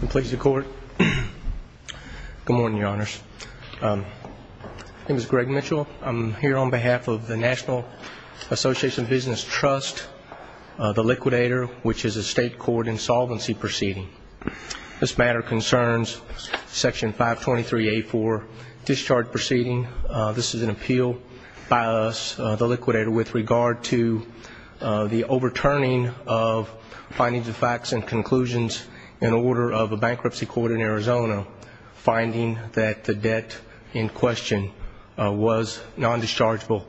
Good morning, Your Honors. My name is Greg Mitchell. I'm here on behalf of the National Association of Business Trust, the Liquidator, which is a state court insolvency proceeding. This matter concerns Section 523A4, Discharge Proceeding. This is an appeal by us, the Liquidator, with regard to the overturning of findings of facts and conclusions in order of a bankruptcy court in Arizona finding that the debt in question was non-dischargeable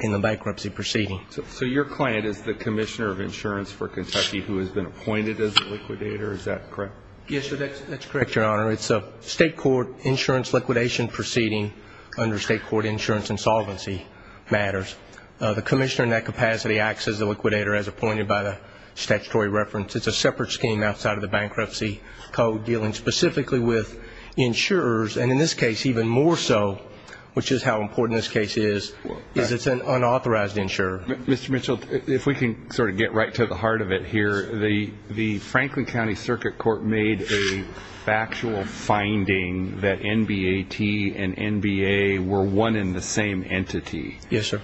in the bankruptcy proceeding. So your client is the Commissioner of Insurance for Kentucky who has been appointed as a Liquidator, is that correct? Yes, that's correct, Your Honor. It's a state court insurance liquidation proceeding under state court insurance insolvency matters. The Commissioner in that capacity acts as the Liquidator as appointed by the statutory reference. It's a separate scheme outside of the bankruptcy code dealing specifically with insurers, and in this case even more so, which is how important this case is, is it's an unauthorized insurer. Mr. Mitchell, if we can sort of get right to the heart of it here, the Franklin County Circuit Court made a factual finding that NBAT and NBA were one and the same entity. Yes, sir.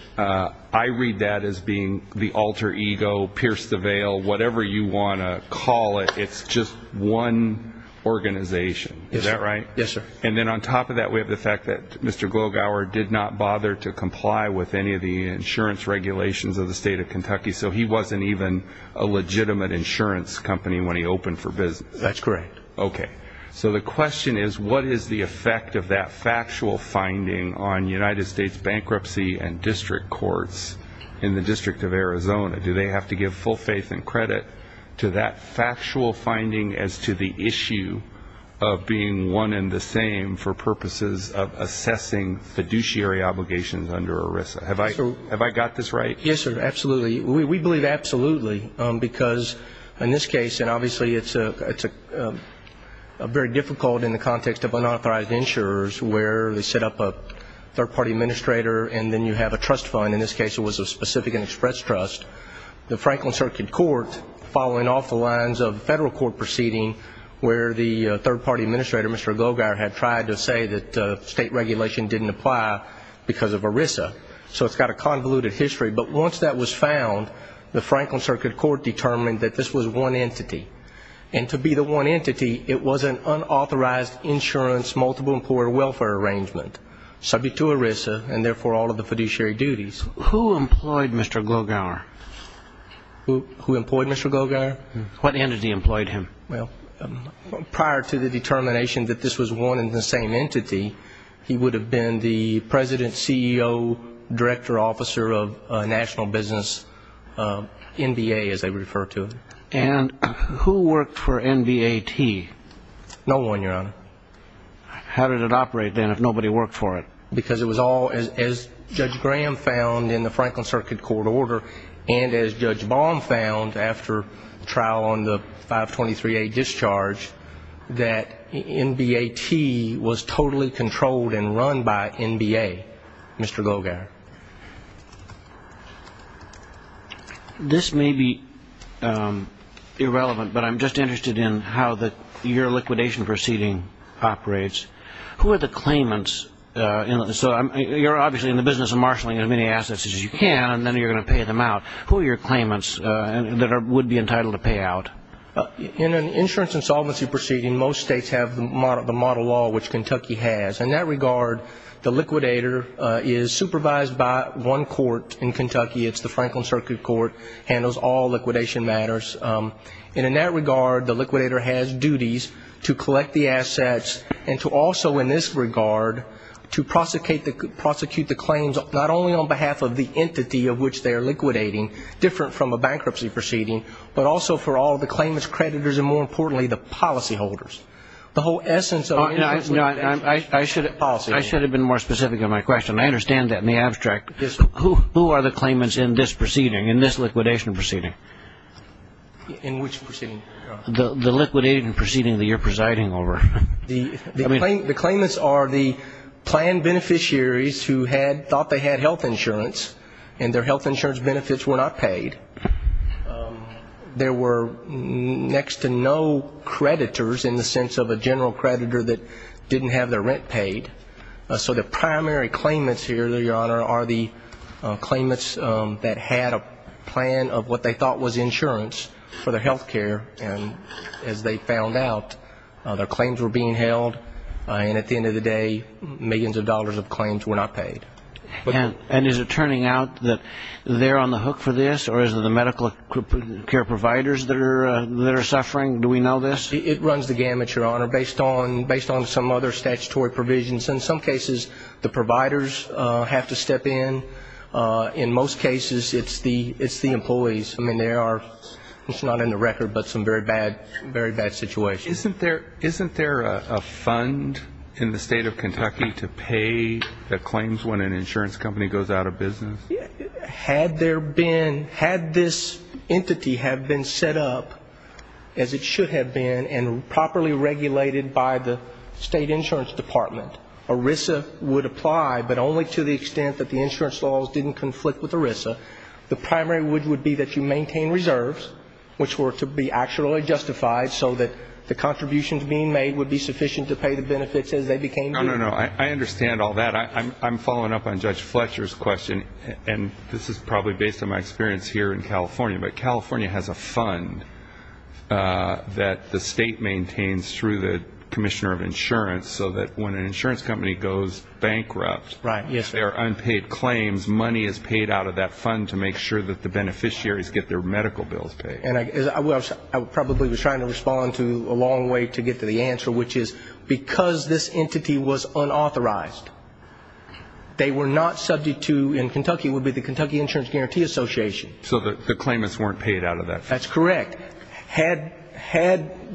I read that as being the alter ego, pierce the veil, whatever you want to call it. It's just one organization, is that right? Yes, sir. And then on top of that we have the fact that Mr. Glogower did not bother to comply with any of the insurance regulations of the state of Kentucky, so he wasn't even a legitimate insurance company when he opened for business. That's correct. Okay. So the question is, what is the effect of that factual finding on United States bankruptcy and district courts in the District of Arizona? Do they have to give full faith and credit to that factual finding as to the issue of being one and the same for purposes of assessing fiduciary obligations under ERISA? Have I got this right? Yes, sir, absolutely. We believe absolutely, because in this case, and obviously it's very difficult in the context of unauthorized insurers where they set up a third-party administrator and then you have a trust fund, in this case it was a specific and express trust. The Franklin Circuit Court, following off the lines of federal court proceeding where the third-party administrator, Mr. Glogower, had tried to say that state regulation didn't apply because of ERISA, so it's got a convoluted history. But once that was found, the Franklin Circuit Court determined that this was one entity. And to be the one entity, it was an unauthorized insurance multiple employer welfare arrangement, subject to ERISA and therefore all of the fiduciary duties. Who employed Mr. Glogower? Who employed Mr. Glogower? What entity employed him? Well, prior to the determination that this was one and the same entity, he would have been the president, CEO, director, officer of a national business, NBA as they refer to it. And who worked for NBAT? No one, Your Honor. How did it operate then if nobody worked for it? Because it was all, as Judge Graham found in the Franklin Circuit Court order and as Judge Baum found after trial on the 523A discharge, that NBAT was totally controlled and run by NBA, Mr. Glogower. This may be irrelevant, but I'm just interested in how your liquidation proceeding operates. Who are the claimants? You're obviously in the business of marshalling as many assets as you can, and then you're going to pay them out. Who are your claimants that would be entitled to pay out? In an insurance insolvency proceeding, most states have the model law which Kentucky has. In that regard, the liquidator is supervised by one court in Kentucky. It's the Franklin Circuit Court, handles all liquidation matters. And in that regard, the liquidator has duties to collect the assets and to also in this regard to prosecute the claims not only on behalf of the entity of which they are liquidating, different from a bankruptcy proceeding, but also for all the claimants, creditors, and more importantly, the policyholders. The whole essence of the liquidation proceeding is the policyholders. I should have been more specific in my question. I understand that in the abstract. Who are the claimants in this proceeding, in this liquidation proceeding? In which proceeding? The liquidation proceeding that you're presiding over. The claimants are the planned beneficiaries who thought they had health insurance, and their health insurance benefits were not paid. There were next to no creditors in the state in the sense of a general creditor that didn't have their rent paid. So the primary claimants here, Your Honor, are the claimants that had a plan of what they thought was insurance for their health care, and as they found out, their claims were being held, and at the end of the day, millions of dollars of claims were not paid. And is it turning out that they're on the hook for this, or is it the medical care providers that are suffering? Do we know this? It runs the gamut, Your Honor, based on some other statutory provisions. In some cases, the providers have to step in. In most cases, it's the employees. I mean, there are, it's not in the record, but some very bad situations. Isn't there a fund in the state of Kentucky to pay the claims when an insurance company goes out of business? Had there been, had this entity have been set up as it should have been and properly regulated by the state insurance department, ERISA would apply, but only to the extent that the insurance laws didn't conflict with ERISA. The primary would be that you maintain reserves, which were to be actually justified so that the contributions being made would be sufficient to pay the benefits as they became due. No, no, no. I understand all that. I'm following up on Judge Fletcher's question, and this is probably based on my experience here in California, but California has a fund that the state maintains through the Commissioner of Insurance so that when an insurance company goes bankrupt, if there are unpaid claims, money is paid out of that fund to make sure that the beneficiaries get their medical bills paid. And I probably was trying to respond to a long way to get to the answer, which is because this entity was unauthorized. They were not subject to, in Kentucky it would be the Kentucky Insurance Guarantee Association. So the claimants weren't paid out of that fund? That's correct. Had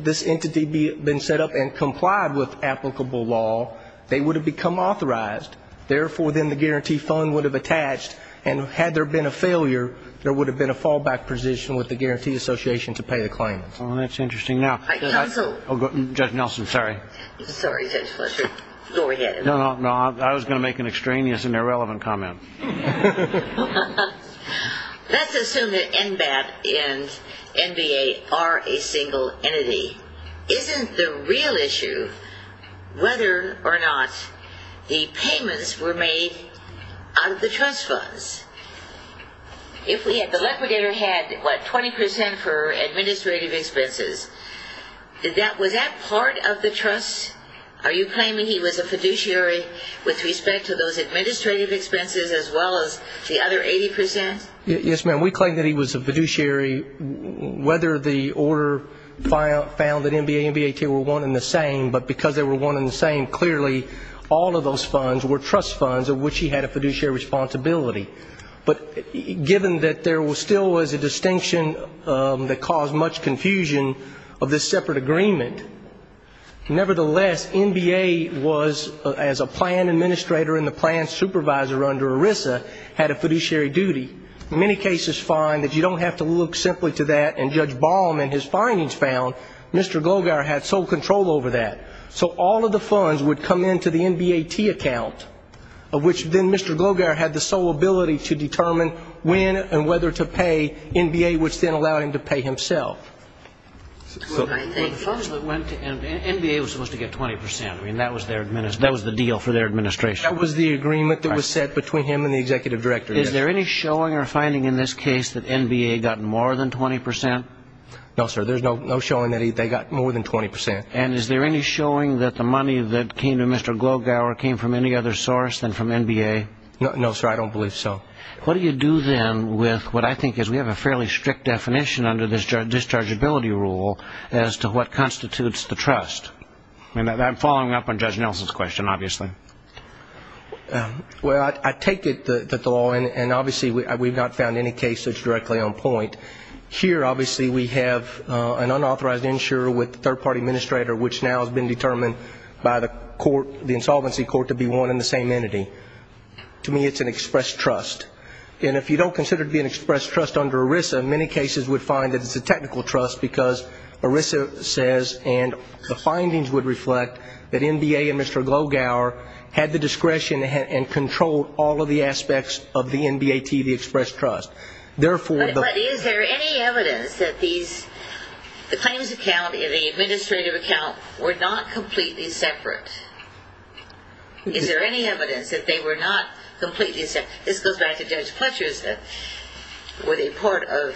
this entity been set up and complied with applicable law, they would have become authorized, therefore then the guarantee fund would have attached, and had there been a failure, there would have been a fallback position with the Guarantee Association to pay the claimants. Well, that's interesting. Now, Judge Nelson, sorry. Sorry, Judge Fletcher. Go ahead. No, no. I was going to make an extraneous and irrelevant comment. Let's assume that NBAP and NBA are a single entity. Isn't the real issue whether or not the payments were made out of the trust funds? If the liquidator had, what, 20 percent for the trust? Are you claiming he was a fiduciary with respect to those administrative expenses as well as the other 80 percent? Yes, ma'am. We claim that he was a fiduciary, whether the order found that NBA and NBAK were one and the same, but because they were one and the same, clearly all of those funds were trust funds of which he had a fiduciary responsibility. But given that there still was a distinction that caused much confusion of this separate agreement, nevertheless, NBA was, as a plan administrator and the plan supervisor under ERISA, had a fiduciary duty. Many cases find that you don't have to look simply to that, and Judge Baum in his findings found Mr. Glogar had sole control over that. So all of the funds would come into the NBAT account, of which then Mr. Glogar had the sole ability to determine when and whether to pay NBA, which then allowed him to pay himself. Well, the funds that went to NBA were supposed to get 20 percent. I mean, that was the deal for their administration. That was the agreement that was set between him and the executive director. Is there any showing or finding in this case that NBA got more than 20 percent? No, sir. There's no showing that they got more than 20 percent. And is there any showing that the money that came to Mr. Glogar came from any other source than from NBA? No, sir. I don't believe so. What do you do then with what I think is, we have a fairly strict definition under this dischargeability rule as to what constitutes the trust? I'm following up on Judge Nelson's question, obviously. Well, I take it that the law, and obviously we've not found any case that's directly on which now has been determined by the insolvency court to be one and the same entity. To me, it's an express trust. And if you don't consider it to be an express trust under ERISA, many cases would find that it's a technical trust because ERISA says, and the findings would reflect, that NBA and Mr. Glogar had the discretion and controlled all of the aspects of the NBATV express trust. But is there any evidence that the claims account and the administrative account were not completely separate? Is there any evidence that they were not completely separate? This goes back to Judge Fletcher's question, were they part of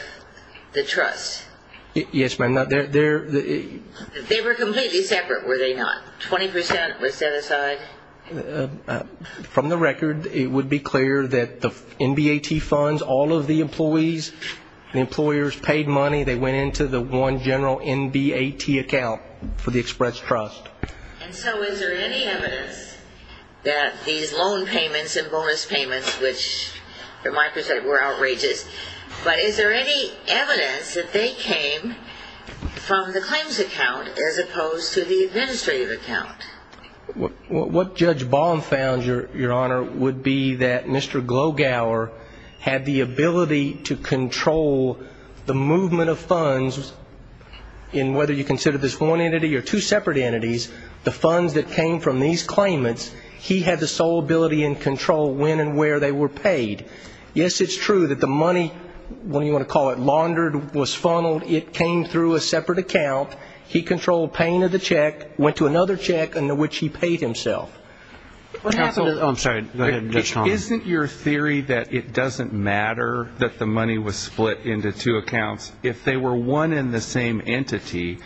the trust? Yes, ma'am. They were completely separate, were they not? 20 percent was set aside? From the record, it would be clear that the NBAT funds, all of the employees, the employers paid money, they went into the one general NBAT account for the express trust. And so is there any evidence that these loan payments and bonus payments, which from my perspective were outrageous, but is there any evidence that they came from the claims account as opposed to the administrative account? What Judge Baum found, Your Honor, would be that Mr. Glogar had the ability to control the movement of funds in whether you consider this one entity or two separate entities, the funds that came from these claimants, he had the sole ability and control when and where they were paid. Yes, it's true that the money, what do you want to call it, laundered, was funneled, it came through a separate account, he controlled paying of the check, went to another check, and to which he paid himself. Isn't your theory that it doesn't matter that the money was split into two accounts, if they were one and the same entity,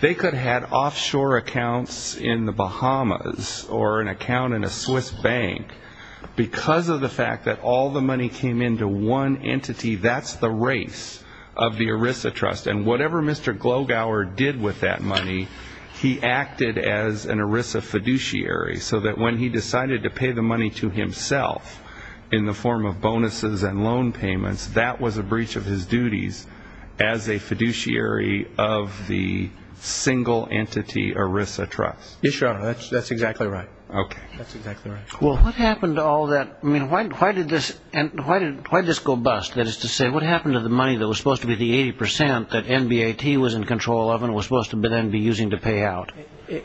they could have offshore accounts in the Bahamas or an account in a Swiss bank, because of the fact that all the money came into one entity, that's the race of the ERISA trust, and whatever Mr. Glogar did with that money, he acted as an ERISA fiduciary, so that when he decided to pay the money to himself in the form of bonuses and loan payments, that was a breach of his duties as a fiduciary of the single entity ERISA trust? Yes, Your Honor, that's exactly right. Well, what happened to all that, I mean, why did this go bust, that is to say, what happened to the money that was supposed to be the 80% that NBAT was in control of and was supposed to then be using to pay out?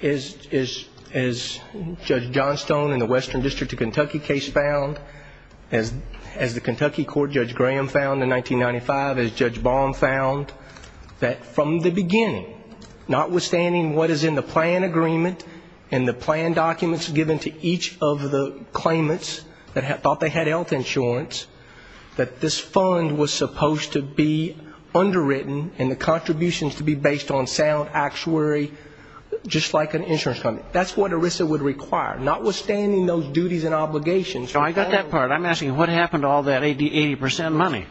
As Judge Johnstone in the Western District of Kentucky case found, as the Kentucky court, Judge Graham found in 1995, as Judge Baum found, that from the beginning, notwithstanding what is in the plan agreement and the plan documents given to each of the claimants that thought they had health insurance, that this fund was supposed to be underwritten and the contributions to be based on the actuary, just like an insurance company, that's what ERISA would require, notwithstanding those duties and obligations. No, I got that part. I'm asking what happened to all that 80% money?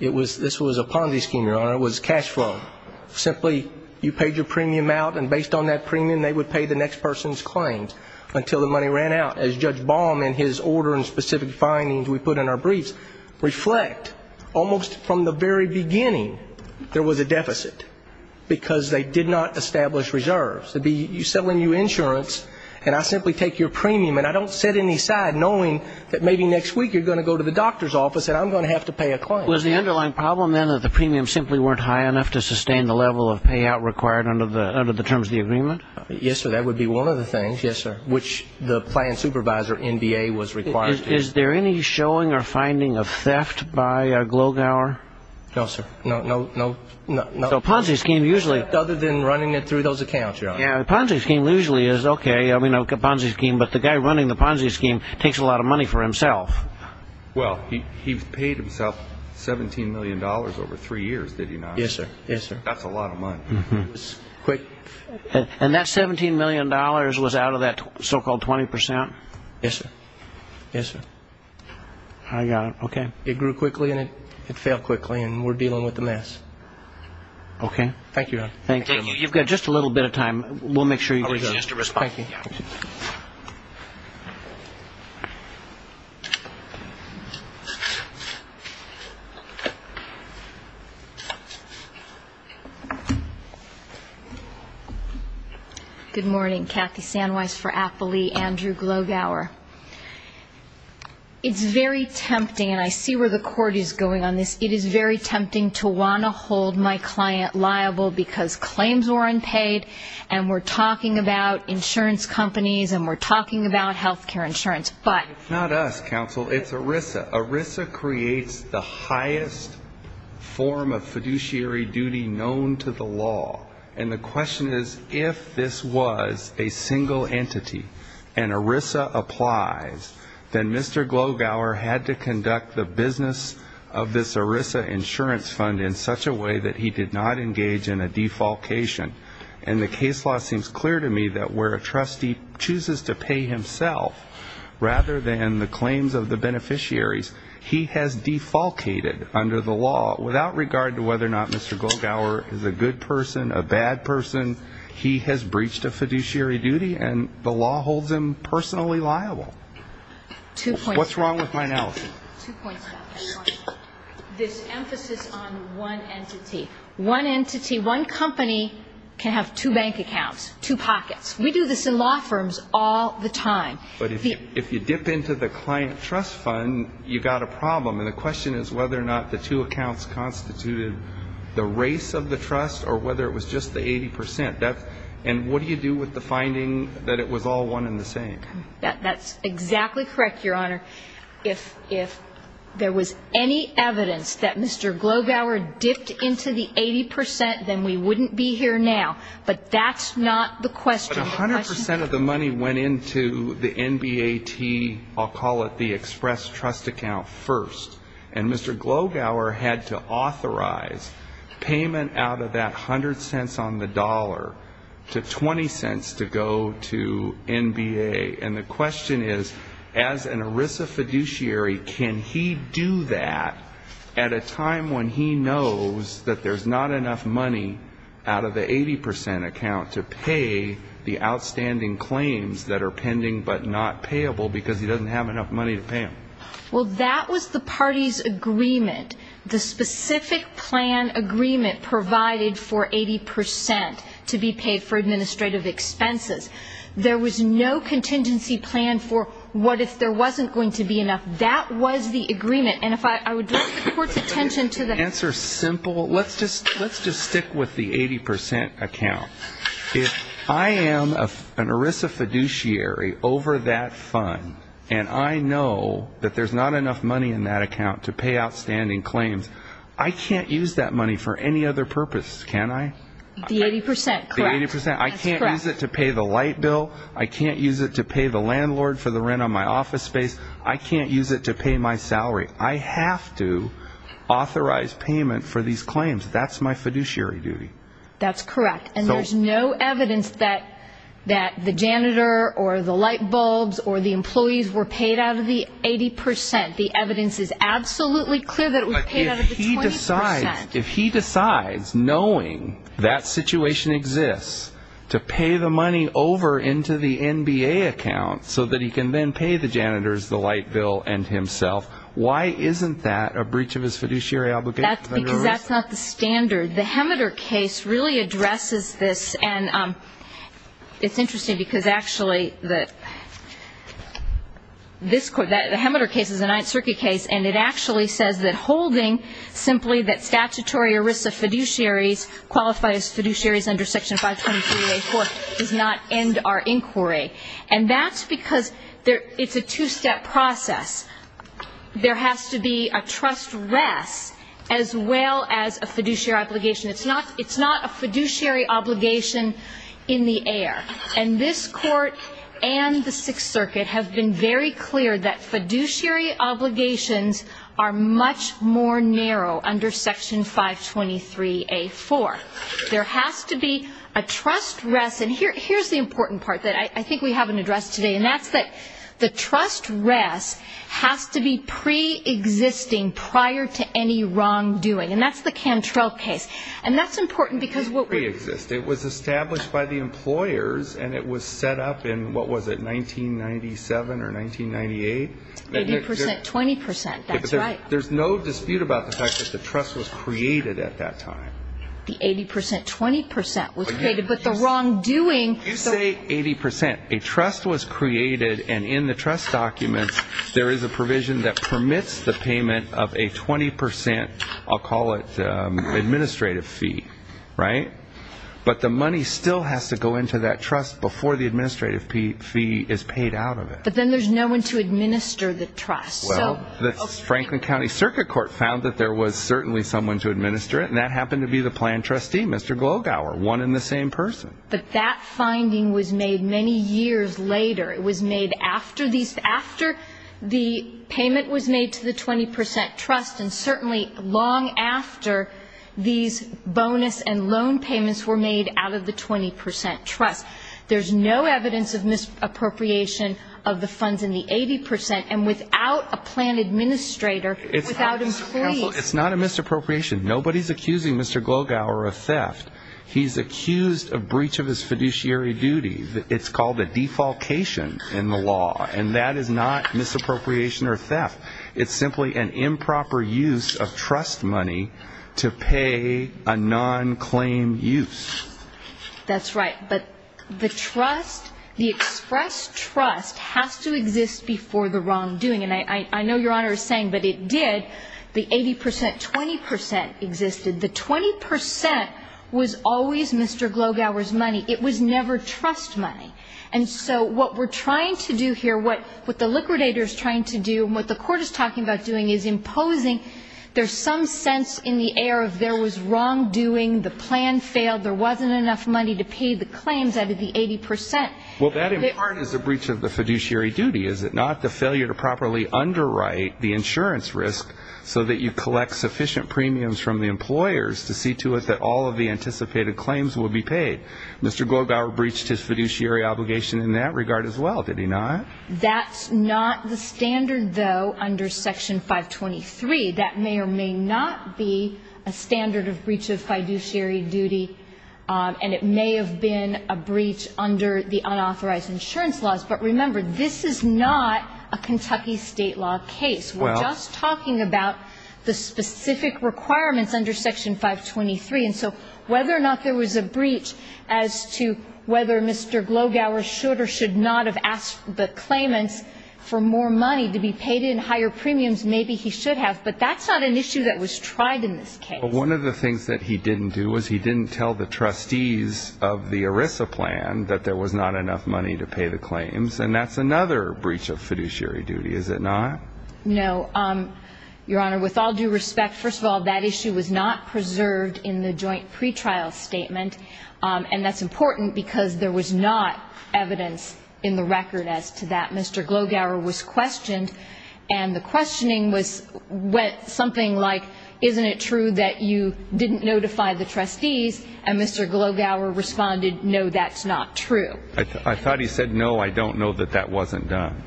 It was, this was a Ponzi scheme, Your Honor, it was cash flow. Simply, you paid your premium out, and based on that premium, they would pay the next person's claims until the money ran out. As Judge Baum in his order and specific findings we put in our briefs reflect, almost from the very beginning, there was a deficit, because they did not establish reserves. It would be you sell a new insurance, and I simply take your premium, and I don't set any aside knowing that maybe next week you're going to go to the doctor's office and I'm going to have to pay a claim. Was the underlying problem, then, that the premiums simply weren't high enough to sustain the level of payout required under the terms of the agreement? Yes, sir, that would be one of the things, yes, sir, which the plan supervisor, NDA, was required to do. Is there any showing or finding of theft by Glogauer? No, sir. No, no, no. So a Ponzi scheme usually... And that $17 million was out of that so-called 20%? Yes, sir. I got it. Okay. It grew quickly, and it fell quickly, and we're dealing with a mess. Okay. Good morning. Kathy Sanweiss for Applely. Andrew Glogauer. It's very tempting, and I see where the court is going on this, it is very tempting to want to hold my client liable because claims were unpaid, and we're talking about insurance companies, and we're talking about health care insurance, but... The question is, if this was a single entity, and ERISA applies, then Mr. Glogauer had to conduct the business of this ERISA insurance fund in such a way that he did not engage in a defalcation. And the case law seems clear to me that where a trustee chooses to pay himself rather than the claims of the beneficiaries, he has defalcated under the law without regard to whether or not Mr. Glogauer is a good person, a bad person, he has breached a fiduciary duty, and the law holds him personally liable. What's wrong with my analysis? This emphasis on one entity. One entity, one company can have two bank accounts, two pockets. We do this in law firms all the time. But if you dip into the client trust fund, you've got a problem, and the question is whether or not the two accounts constituted the race of the trust, or whether it was just the 80%. And what do you do with the finding that it was all one and the same? That's exactly correct, Your Honor. If there was any evidence that Mr. Glogauer dipped into the 80%, then we wouldn't be here now. But that's not the question. The 100% of the money went into the NBAT, I'll call it the express trust account, first. And Mr. Glogauer had to authorize payment out of that 100 cents on the dollar to 20 cents to go to NBA. And the question is, as an ERISA fiduciary, can he do that at a time when he knows that there's not enough money out of the 80% account to pay the outstanding claims that are pending but not payable because he doesn't have enough money to pay them? Well, that was the party's agreement, the specific plan agreement provided for 80% to be paid for administrative expenses. There was no contingency plan for what if there wasn't going to be enough. That was the agreement. Let's just stick with the 80% account. If I am an ERISA fiduciary over that fund and I know that there's not enough money in that account to pay outstanding claims, I can't use that money for any other purpose, can I? The 80%, correct. I can't use it to pay the light bill, I can't use it to pay the landlord for the rent on my office space, I can't use it to pay my salary. I have to authorize payment for these claims. That's my fiduciary duty. That's correct. And there's no evidence that the janitor or the light bulbs or the employees were paid out of the 80%. The evidence is absolutely clear that it was paid out of the 20%. If he decides, knowing that situation exists, to pay the money over into the NBA account so that he can then pay the janitors, the light bill and himself, why isn't that a breach of his fiduciary obligation? Because that's not the standard. The Hemeter case really addresses this, and it's interesting because actually the Hemeter case is a Ninth Circuit case, and it actually says that holding simply that staff can't be paid out of the 80%. The statutory ERISA fiduciaries qualify as fiduciaries under Section 523A4 does not end our inquiry. And that's because it's a two-step process. There has to be a trust rest as well as a fiduciary obligation. It's not a fiduciary obligation in the air. And this Court and the Sixth Circuit have been very clear that fiduciary obligations are much more narrow under Section 523A4. There has to be a trust rest. And here's the important part that I think we haven't addressed today, and that's that the trust rest has to be preexisting prior to any wrongdoing. And that's the Cantrell case. And that's important because what we do... The 80%, 20% was created, but the wrongdoing... You say 80%. A trust was created, and in the trust documents there is a provision that permits the payment of a 20%, I'll call it administrative fee, right? But the money still has to go into that trust before the administrative fee is paid out of it. But then there's no one to administer the trust. Well, the Franklin County Circuit Court found that there was certainly someone to administer it, and that happened to be the plan trustee, Mr. Glowgower, one and the same person. But that finding was made many years later. It was made after the payment was made to the 20% trust, and certainly long after these bonus and loan payments were made out of the 20% trust. There's no evidence of misappropriation of the funds in the 80%, and without a plan administrator, without a plea... Counsel, it's not a misappropriation. Nobody's accusing Mr. Glowgower of theft. He's accused of breach of his fiduciary duty. It's called a defalcation in the law, and that is not misappropriation or theft. It's simply an improper use of trust money to pay a non-claim use. That's right. But the trust, the express trust has to exist before the wrongdoing, and I know Your Honor is saying, but it did. The 80%, 20% existed. The 20% was always Mr. Glowgower's money. It was never trust money. And so what we're trying to do here, what the liquidator is trying to do and what the court is talking about doing is imposing there's some sense in the air of there was wrongdoing, the plan failed, there wasn't enough money to pay the claims out of the 80%. Well, that in part is a breach of the fiduciary duty, is it not? The failure to properly underwrite the insurance risk so that you collect sufficient premiums from the employers to see to it that all of the anticipated claims will be paid. Mr. Glowgower breached his fiduciary obligation in that regard as well, did he not? That's not the standard, though, under Section 523. That may or may not be a standard of breach of fiduciary duty, and it may have been a breach under the unauthorized insurance laws. But remember, this is not a Kentucky state law case. We're just talking about the specific requirements under Section 523. And so whether or not there was a breach as to whether Mr. Glowgower should or should not have asked the claimants for more money to be paid in higher premiums, maybe he should have. But that's not an issue that was tried in this case. Well, one of the things that he didn't do was he didn't tell the trustees of the ERISA plan that there was not enough money to pay the claims, and that's another breach of fiduciary duty, is it not? No, Your Honor. With all due respect, first of all, that issue was not preserved in the joint pretrial statement, and that's important because there was not evidence in the record as to that. Mr. Glowgower was questioned, and the questioning was something like, isn't it true that you didn't notify the trustees? And Mr. Glowgower responded, no, that's not true. I thought he said, no, I don't know that that wasn't done.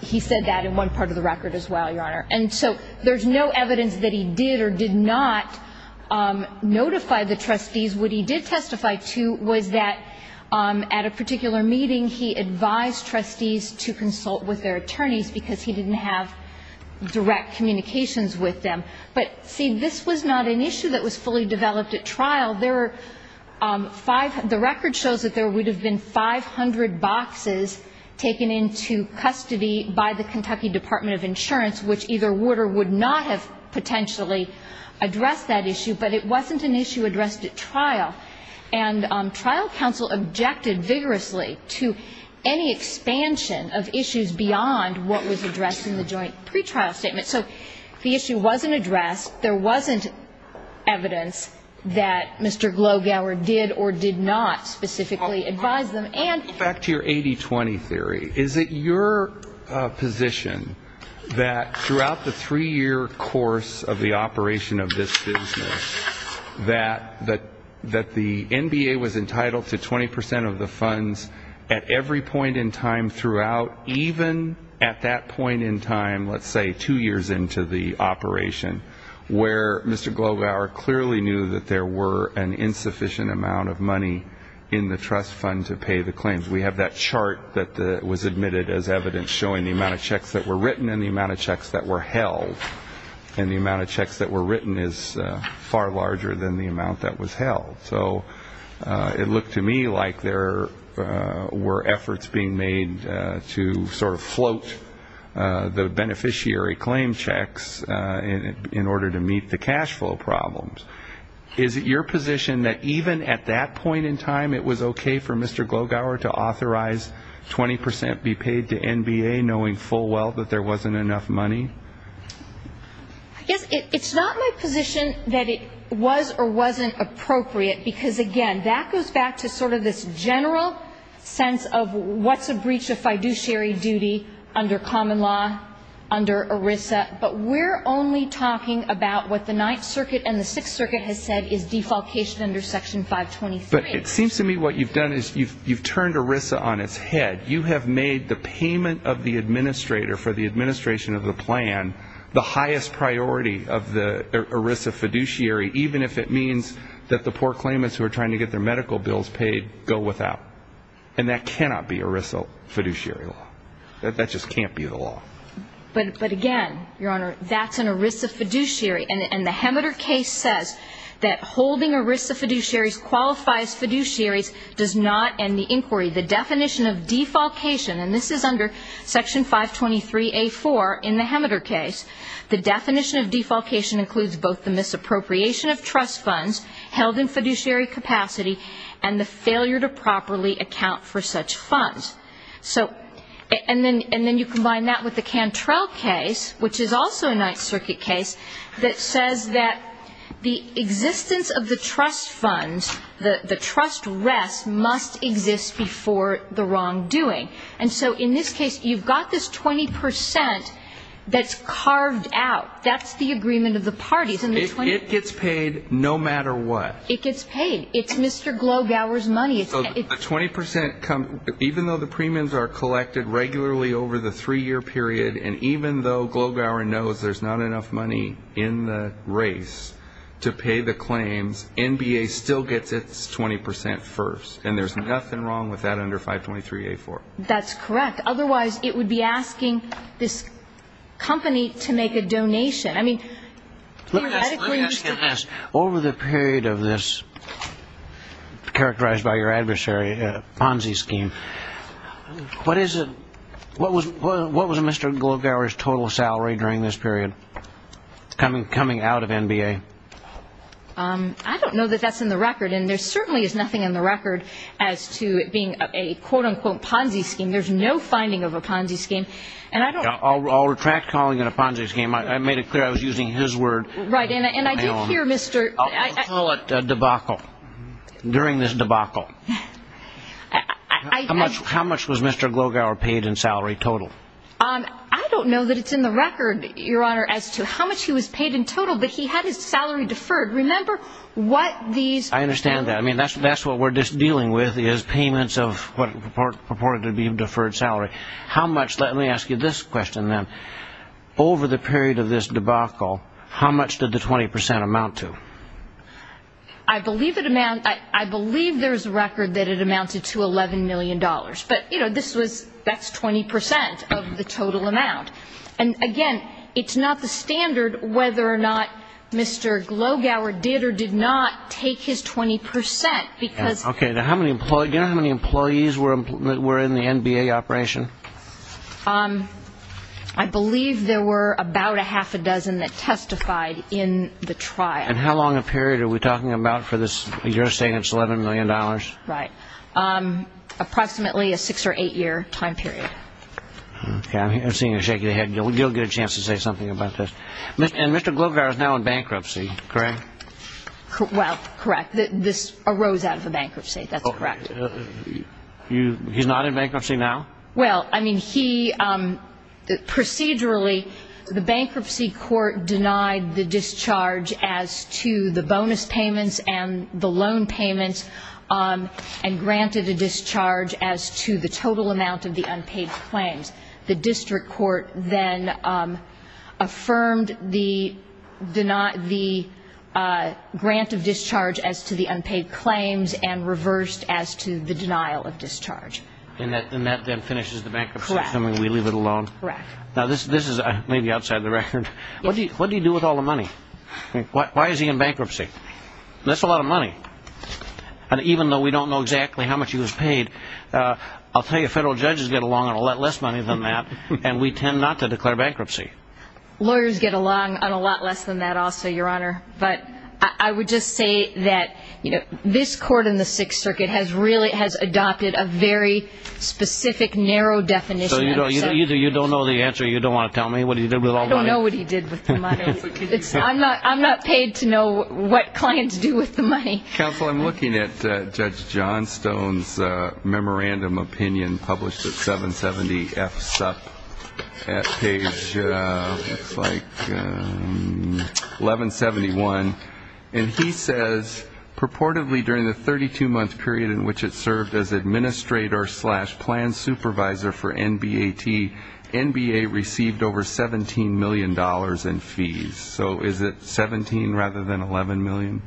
He said that in one part of the record as well, Your Honor. And so there's no evidence that he did or did not notify the trustees. What he did testify to was that at a particular meeting he advised trustees to consult with their attorneys because he didn't have direct communications with them. But, see, this was not an issue that was fully developed at trial. The record shows that there would have been 500 boxes taken into custody by the Kentucky Department of Insurance, which either would or would not have potentially addressed that issue, but it wasn't an issue addressed at trial. And trial counsel objected vigorously to any expansion of issues beyond what was addressed in the joint pretrial statement. So the issue wasn't addressed. There wasn't evidence that Mr. Glowgower did or did not specifically advise them. And back to your 80-20 theory, is it your position that throughout the three-year course of the operation of this business, that the NBA was entitled to 20 percent of the funds at every point in time throughout, even at that point in time, let's say two years ago? And that was the case for the first three years into the operation, where Mr. Glowgower clearly knew that there were an insufficient amount of money in the trust fund to pay the claims. We have that chart that was admitted as evidence showing the amount of checks that were written and the amount of checks that were held. And the amount of checks that were written is far larger than the amount that was held. So it looked to me like there were efforts being made to sort of float the beneficiary claim checks, and the amount of checks that were held was far larger than the amount that was held. And the amount of checks in order to meet the cash flow problems. Is it your position that even at that point in time it was okay for Mr. Glowgower to authorize 20 percent be paid to NBA, knowing full well that there wasn't enough money? I guess it's not my position that it was or wasn't appropriate, because, again, that goes back to sort of this general sense of what's a breach of fiduciary duty under common law, under ERISA. But we're only talking about what the Ninth Circuit and the Sixth Circuit has said is defalcation under Section 523. But it seems to me what you've done is you've turned ERISA on its head. You have made the payment of the administrator for the administration of the plan the highest priority of the ERISA fiduciary, even if it means that the poor claimants who are trying to get their medical bills paid go without. And that cannot be ERISA fiduciary law. That just can't be the law. But, again, Your Honor, that's an ERISA fiduciary, and the Hemeter case says that holding ERISA fiduciaries qualifies fiduciaries does not end the inquiry. The definition of defalcation, and this is under Section 523A.4 in the Hemeter case, the definition of defalcation includes both the misappropriation of trust funds held in fiduciary capacity and the failure to properly account for such funds. And then you combine that with the Cantrell case, which is also a Ninth Circuit case, that says that the existence of the trust funds, the trust rest, must exist before the wrongdoing. And so in this case, you've got this 20 percent that's carved out. That's the agreement of the parties. It gets paid no matter what. It gets paid. It's Mr. Glowgower's money. Even though the premiums are collected regularly over the three-year period, and even though Glowgower knows there's not enough money in the race to pay the claims, NBA still gets its 20 percent first. And there's nothing wrong with that under 523A.4. That's correct. Otherwise, it would be asking this company to make a donation. Let me ask you this. Over the period of this, characterized by your adversary, Ponzi scheme, what was Mr. Glowgower's total salary during this period, coming out of NBA? I don't know that that's in the record, and there certainly is nothing in the record as to it being a, quote-unquote, Ponzi scheme. There's no finding of a Ponzi scheme. I'll retract calling it a Ponzi scheme. I made it clear I was using his word. Right, and I did hear Mr. I'll call it debacle. During this debacle. How much was Mr. Glowgower paid in salary total? I don't know that it's in the record, Your Honor, as to how much he was paid in total, but he had his salary deferred. Remember what these I understand that. I mean, that's what we're dealing with is payments of what are purported to be deferred salary. Let me ask you this question, then. Over the period of this debacle, how much did the 20 percent amount to? I believe there's a record that it amounted to $11 million, but that's 20 percent of the total amount. And again, it's not the standard whether or not Mr. Glowgower did or did not take his 20 percent, because Okay. Now, do you know how many employees were in the NBA operation? I believe there were about a half a dozen that testified in the trial. And how long a period are we talking about for this? You're saying it's $11 million? Right. Approximately a six or eight year time period. I'm seeing you shaking your head. You'll get a chance to say something about this. And Mr. Glowgower is now in bankruptcy, correct? Well, correct. This arose out of a bankruptcy. That's correct. He's not in bankruptcy now? Well, I mean, he – procedurally, the bankruptcy court denied the discharge as to the bonus payments and the loan payments, and granted a discharge as to the total amount of the unpaid claims. The district court then affirmed the – denied the total amount of the unpaid claims. And granted a grant of discharge as to the unpaid claims and reversed as to the denial of discharge. And that then finishes the bankruptcy, assuming we leave it alone? Correct. Now, this is maybe outside the record. What do you do with all the money? Why is he in bankruptcy? That's a lot of money. And even though we don't know exactly how much he was paid, I'll tell you, federal judges get along on a lot less money than that, and we tend not to declare bankruptcy. I would just say that, you know, this court in the Sixth Circuit has really – has adopted a very specific, narrow definition. So you don't know the answer? You don't want to tell me? What do you do with all the money? I don't know what he did with the money. I'm not paid to know what clients do with the money. Counsel, I'm looking at Judge Johnstone's memorandum opinion published at 770-F-SUP at page, looks like, 1171. And he says, purportedly, during the 32-month period in which it served as administrator slash plan supervisor for NBAT, NBA received over $17 million in fees. So is it 17 rather than 11 million?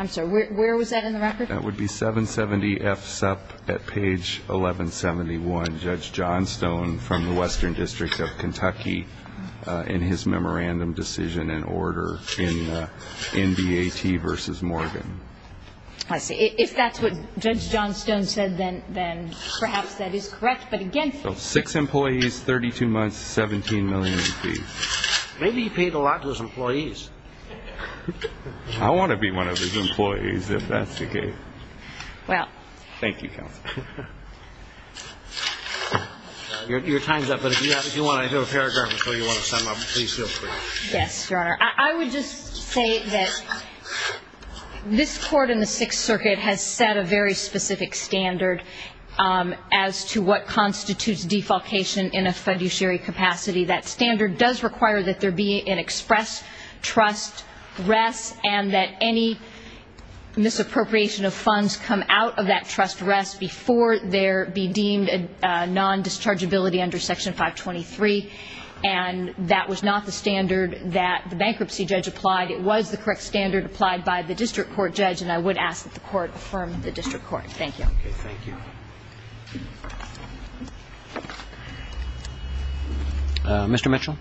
I'm sorry. Where was that in the record? That would be 770-F-SUP at page 1171, Judge Johnstone from the Western District of Kentucky, in his memorandum decision and order in NBAT v. Morgan. I see. If that's what Judge Johnstone said, then perhaps that is correct. But again – So six employees, 32 months, 17 million in fees. Thank you, Counsel. Your time is up, but if you want to do a paragraph or two, you want to sum up, please feel free. Yes, Your Honor. I would just say that this Court in the Sixth Circuit has set a very specific standard as to what constitutes defalcation in a fiduciary capacity. That standard does require that there be an express trust, rest, and that any misappropriation of funds from the federal government, funds come out of that trust rest before there be deemed a nondischargeability under Section 523. And that was not the standard that the bankruptcy judge applied. It was the correct standard applied by the district court judge, and I would ask that the Court affirm the district court. Thank you. Okay. Thank you. Mr. Mitchell.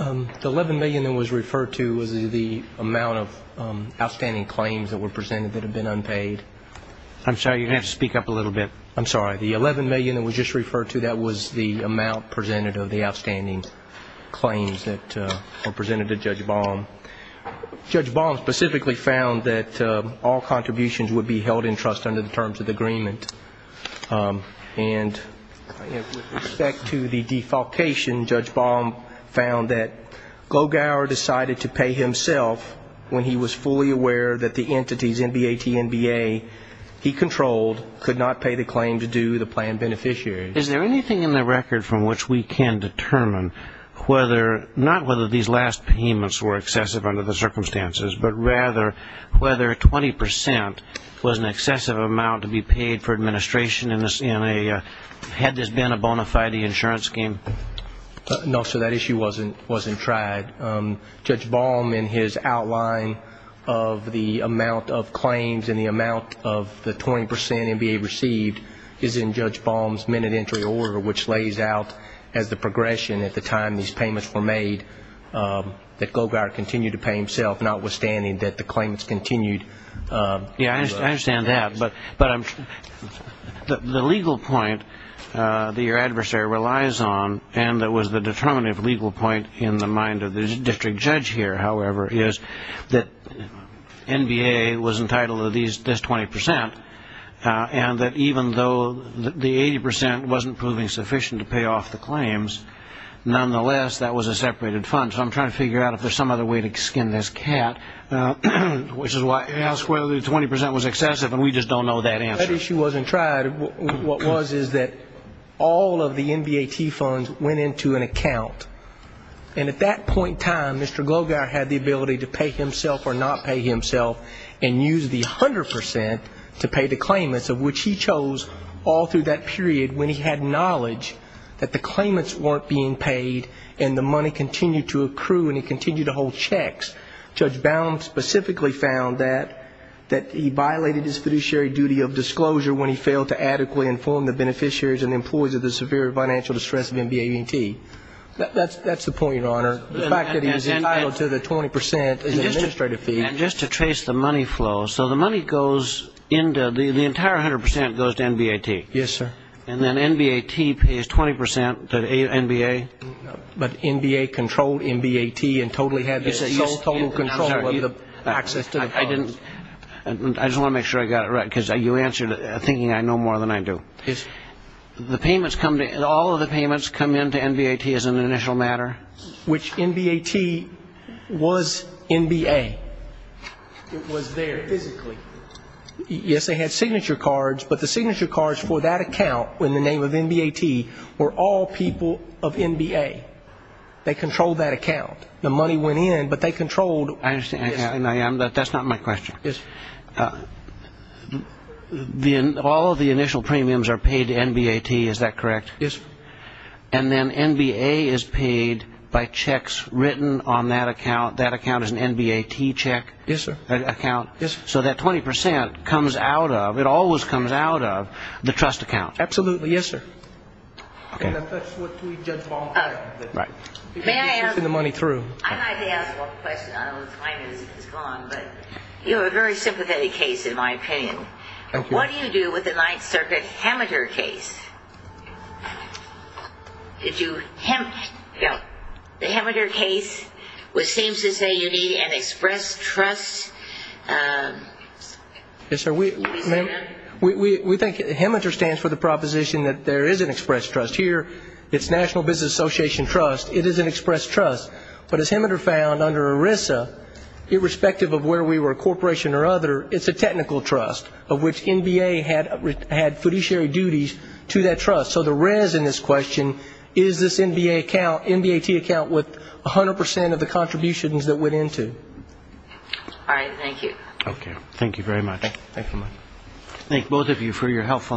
The 11 million that was referred to was the amount of outstanding claims that were presented that had been unpaid. I'm sorry, you're going to have to speak up a little bit. I'm sorry. The 11 million that was just referred to, that was the amount presented of the outstanding claims that were presented to Judge Baum. Judge Baum specifically found that all contributions would be held in trust under the terms of the agreement. And with respect to the defalcation, Judge Baum found that Glogower decided to pay himself when he was fully aware that the entities, NBAT, NBA, he controlled, could not pay the claim to do the plan beneficiary. Is there anything in the record from which we can determine whether, not whether these last payments were excessive under the circumstances, but rather whether 20 percent was an excessive amount to be paid for administration in a non-fiduciary capacity? Had this been a bona fide insurance scheme? No, sir, that issue wasn't tried. Judge Baum, in his outline of the amount of claims and the amount of the 20 percent NBA received is in Judge Baum's minute entry order, which lays out as the progression at the time these payments were made that Glogower continued to pay himself, notwithstanding that the claimants continued. Yes, I understand that, but the legal point that your adversary relies on, and that was the determinative legal point in the mind of the district judge here, however, is that NBA was entitled to this 20 percent, and that even though the 80 percent wasn't proving sufficient to pay off the claims, nonetheless, that was a separated fund. So I'm trying to figure out if there's some other way to skin this cat, which is why I ask whether the 20 percent was excessive, and we just don't know that answer. That issue wasn't tried. What was is that all of the NBAT funds went into an account, and at that point in time, Mr. Glogower had the ability to pay himself or not pay himself and use the 100 percent to pay the claimants, of which he chose all through that period when he had knowledge that the claimants weren't being paid and the money continued to occur. And he continued to hold checks. Judge Baum specifically found that he violated his fiduciary duty of disclosure when he failed to adequately inform the beneficiaries and employees of the severe financial distress of NBAT. That's the point, Your Honor, the fact that he was entitled to the 20 percent as an administrative fee. And just to trace the money flow, so the money goes into the entire 100 percent goes to NBAT. Yes, sir. And then NBAT pays 20 percent to NBA. But NBAT controlled NBAT and totally had total control of the access to the funds. I just want to make sure I got it right, because you answered it thinking I know more than I do. All of the payments come into NBAT as an initial matter. Which NBAT was NBA. It was there physically. Yes, they had signature cards, but the signature cards for that account in the name of NBAT were all people of NBAT. They controlled that account. The money went in, but they controlled. I understand. That's not my question. All of the initial premiums are paid to NBAT. Is that correct? Yes, sir. And then NBAT is paid by checks written on that account. That account is an NBAT check. Yes, sir. So that 20 percent comes out of, it always comes out of the trust account. Absolutely. Yes, sir. And that's what we judge by. I'd like to ask one question. I don't know if my music is gone, but you have a very sympathetic case in my opinion. What do you do with the Ninth Circuit Hemmeter case? The Hemmeter case, which seems to say you need an express trust. Yes, sir. We think Hemmeter stands for the proposition that there is an express trust here. It's National Business Association trust. It is an express trust. But as Hemmeter found under ERISA, irrespective of where we were, corporation or other, it's a technical trust, of which NBA had fiduciary duties to that trust. So the rez in this question is this NBAT account with 100 percent of the contributions that went into. All right. Thank you. Thank you both of you for your helpful argument.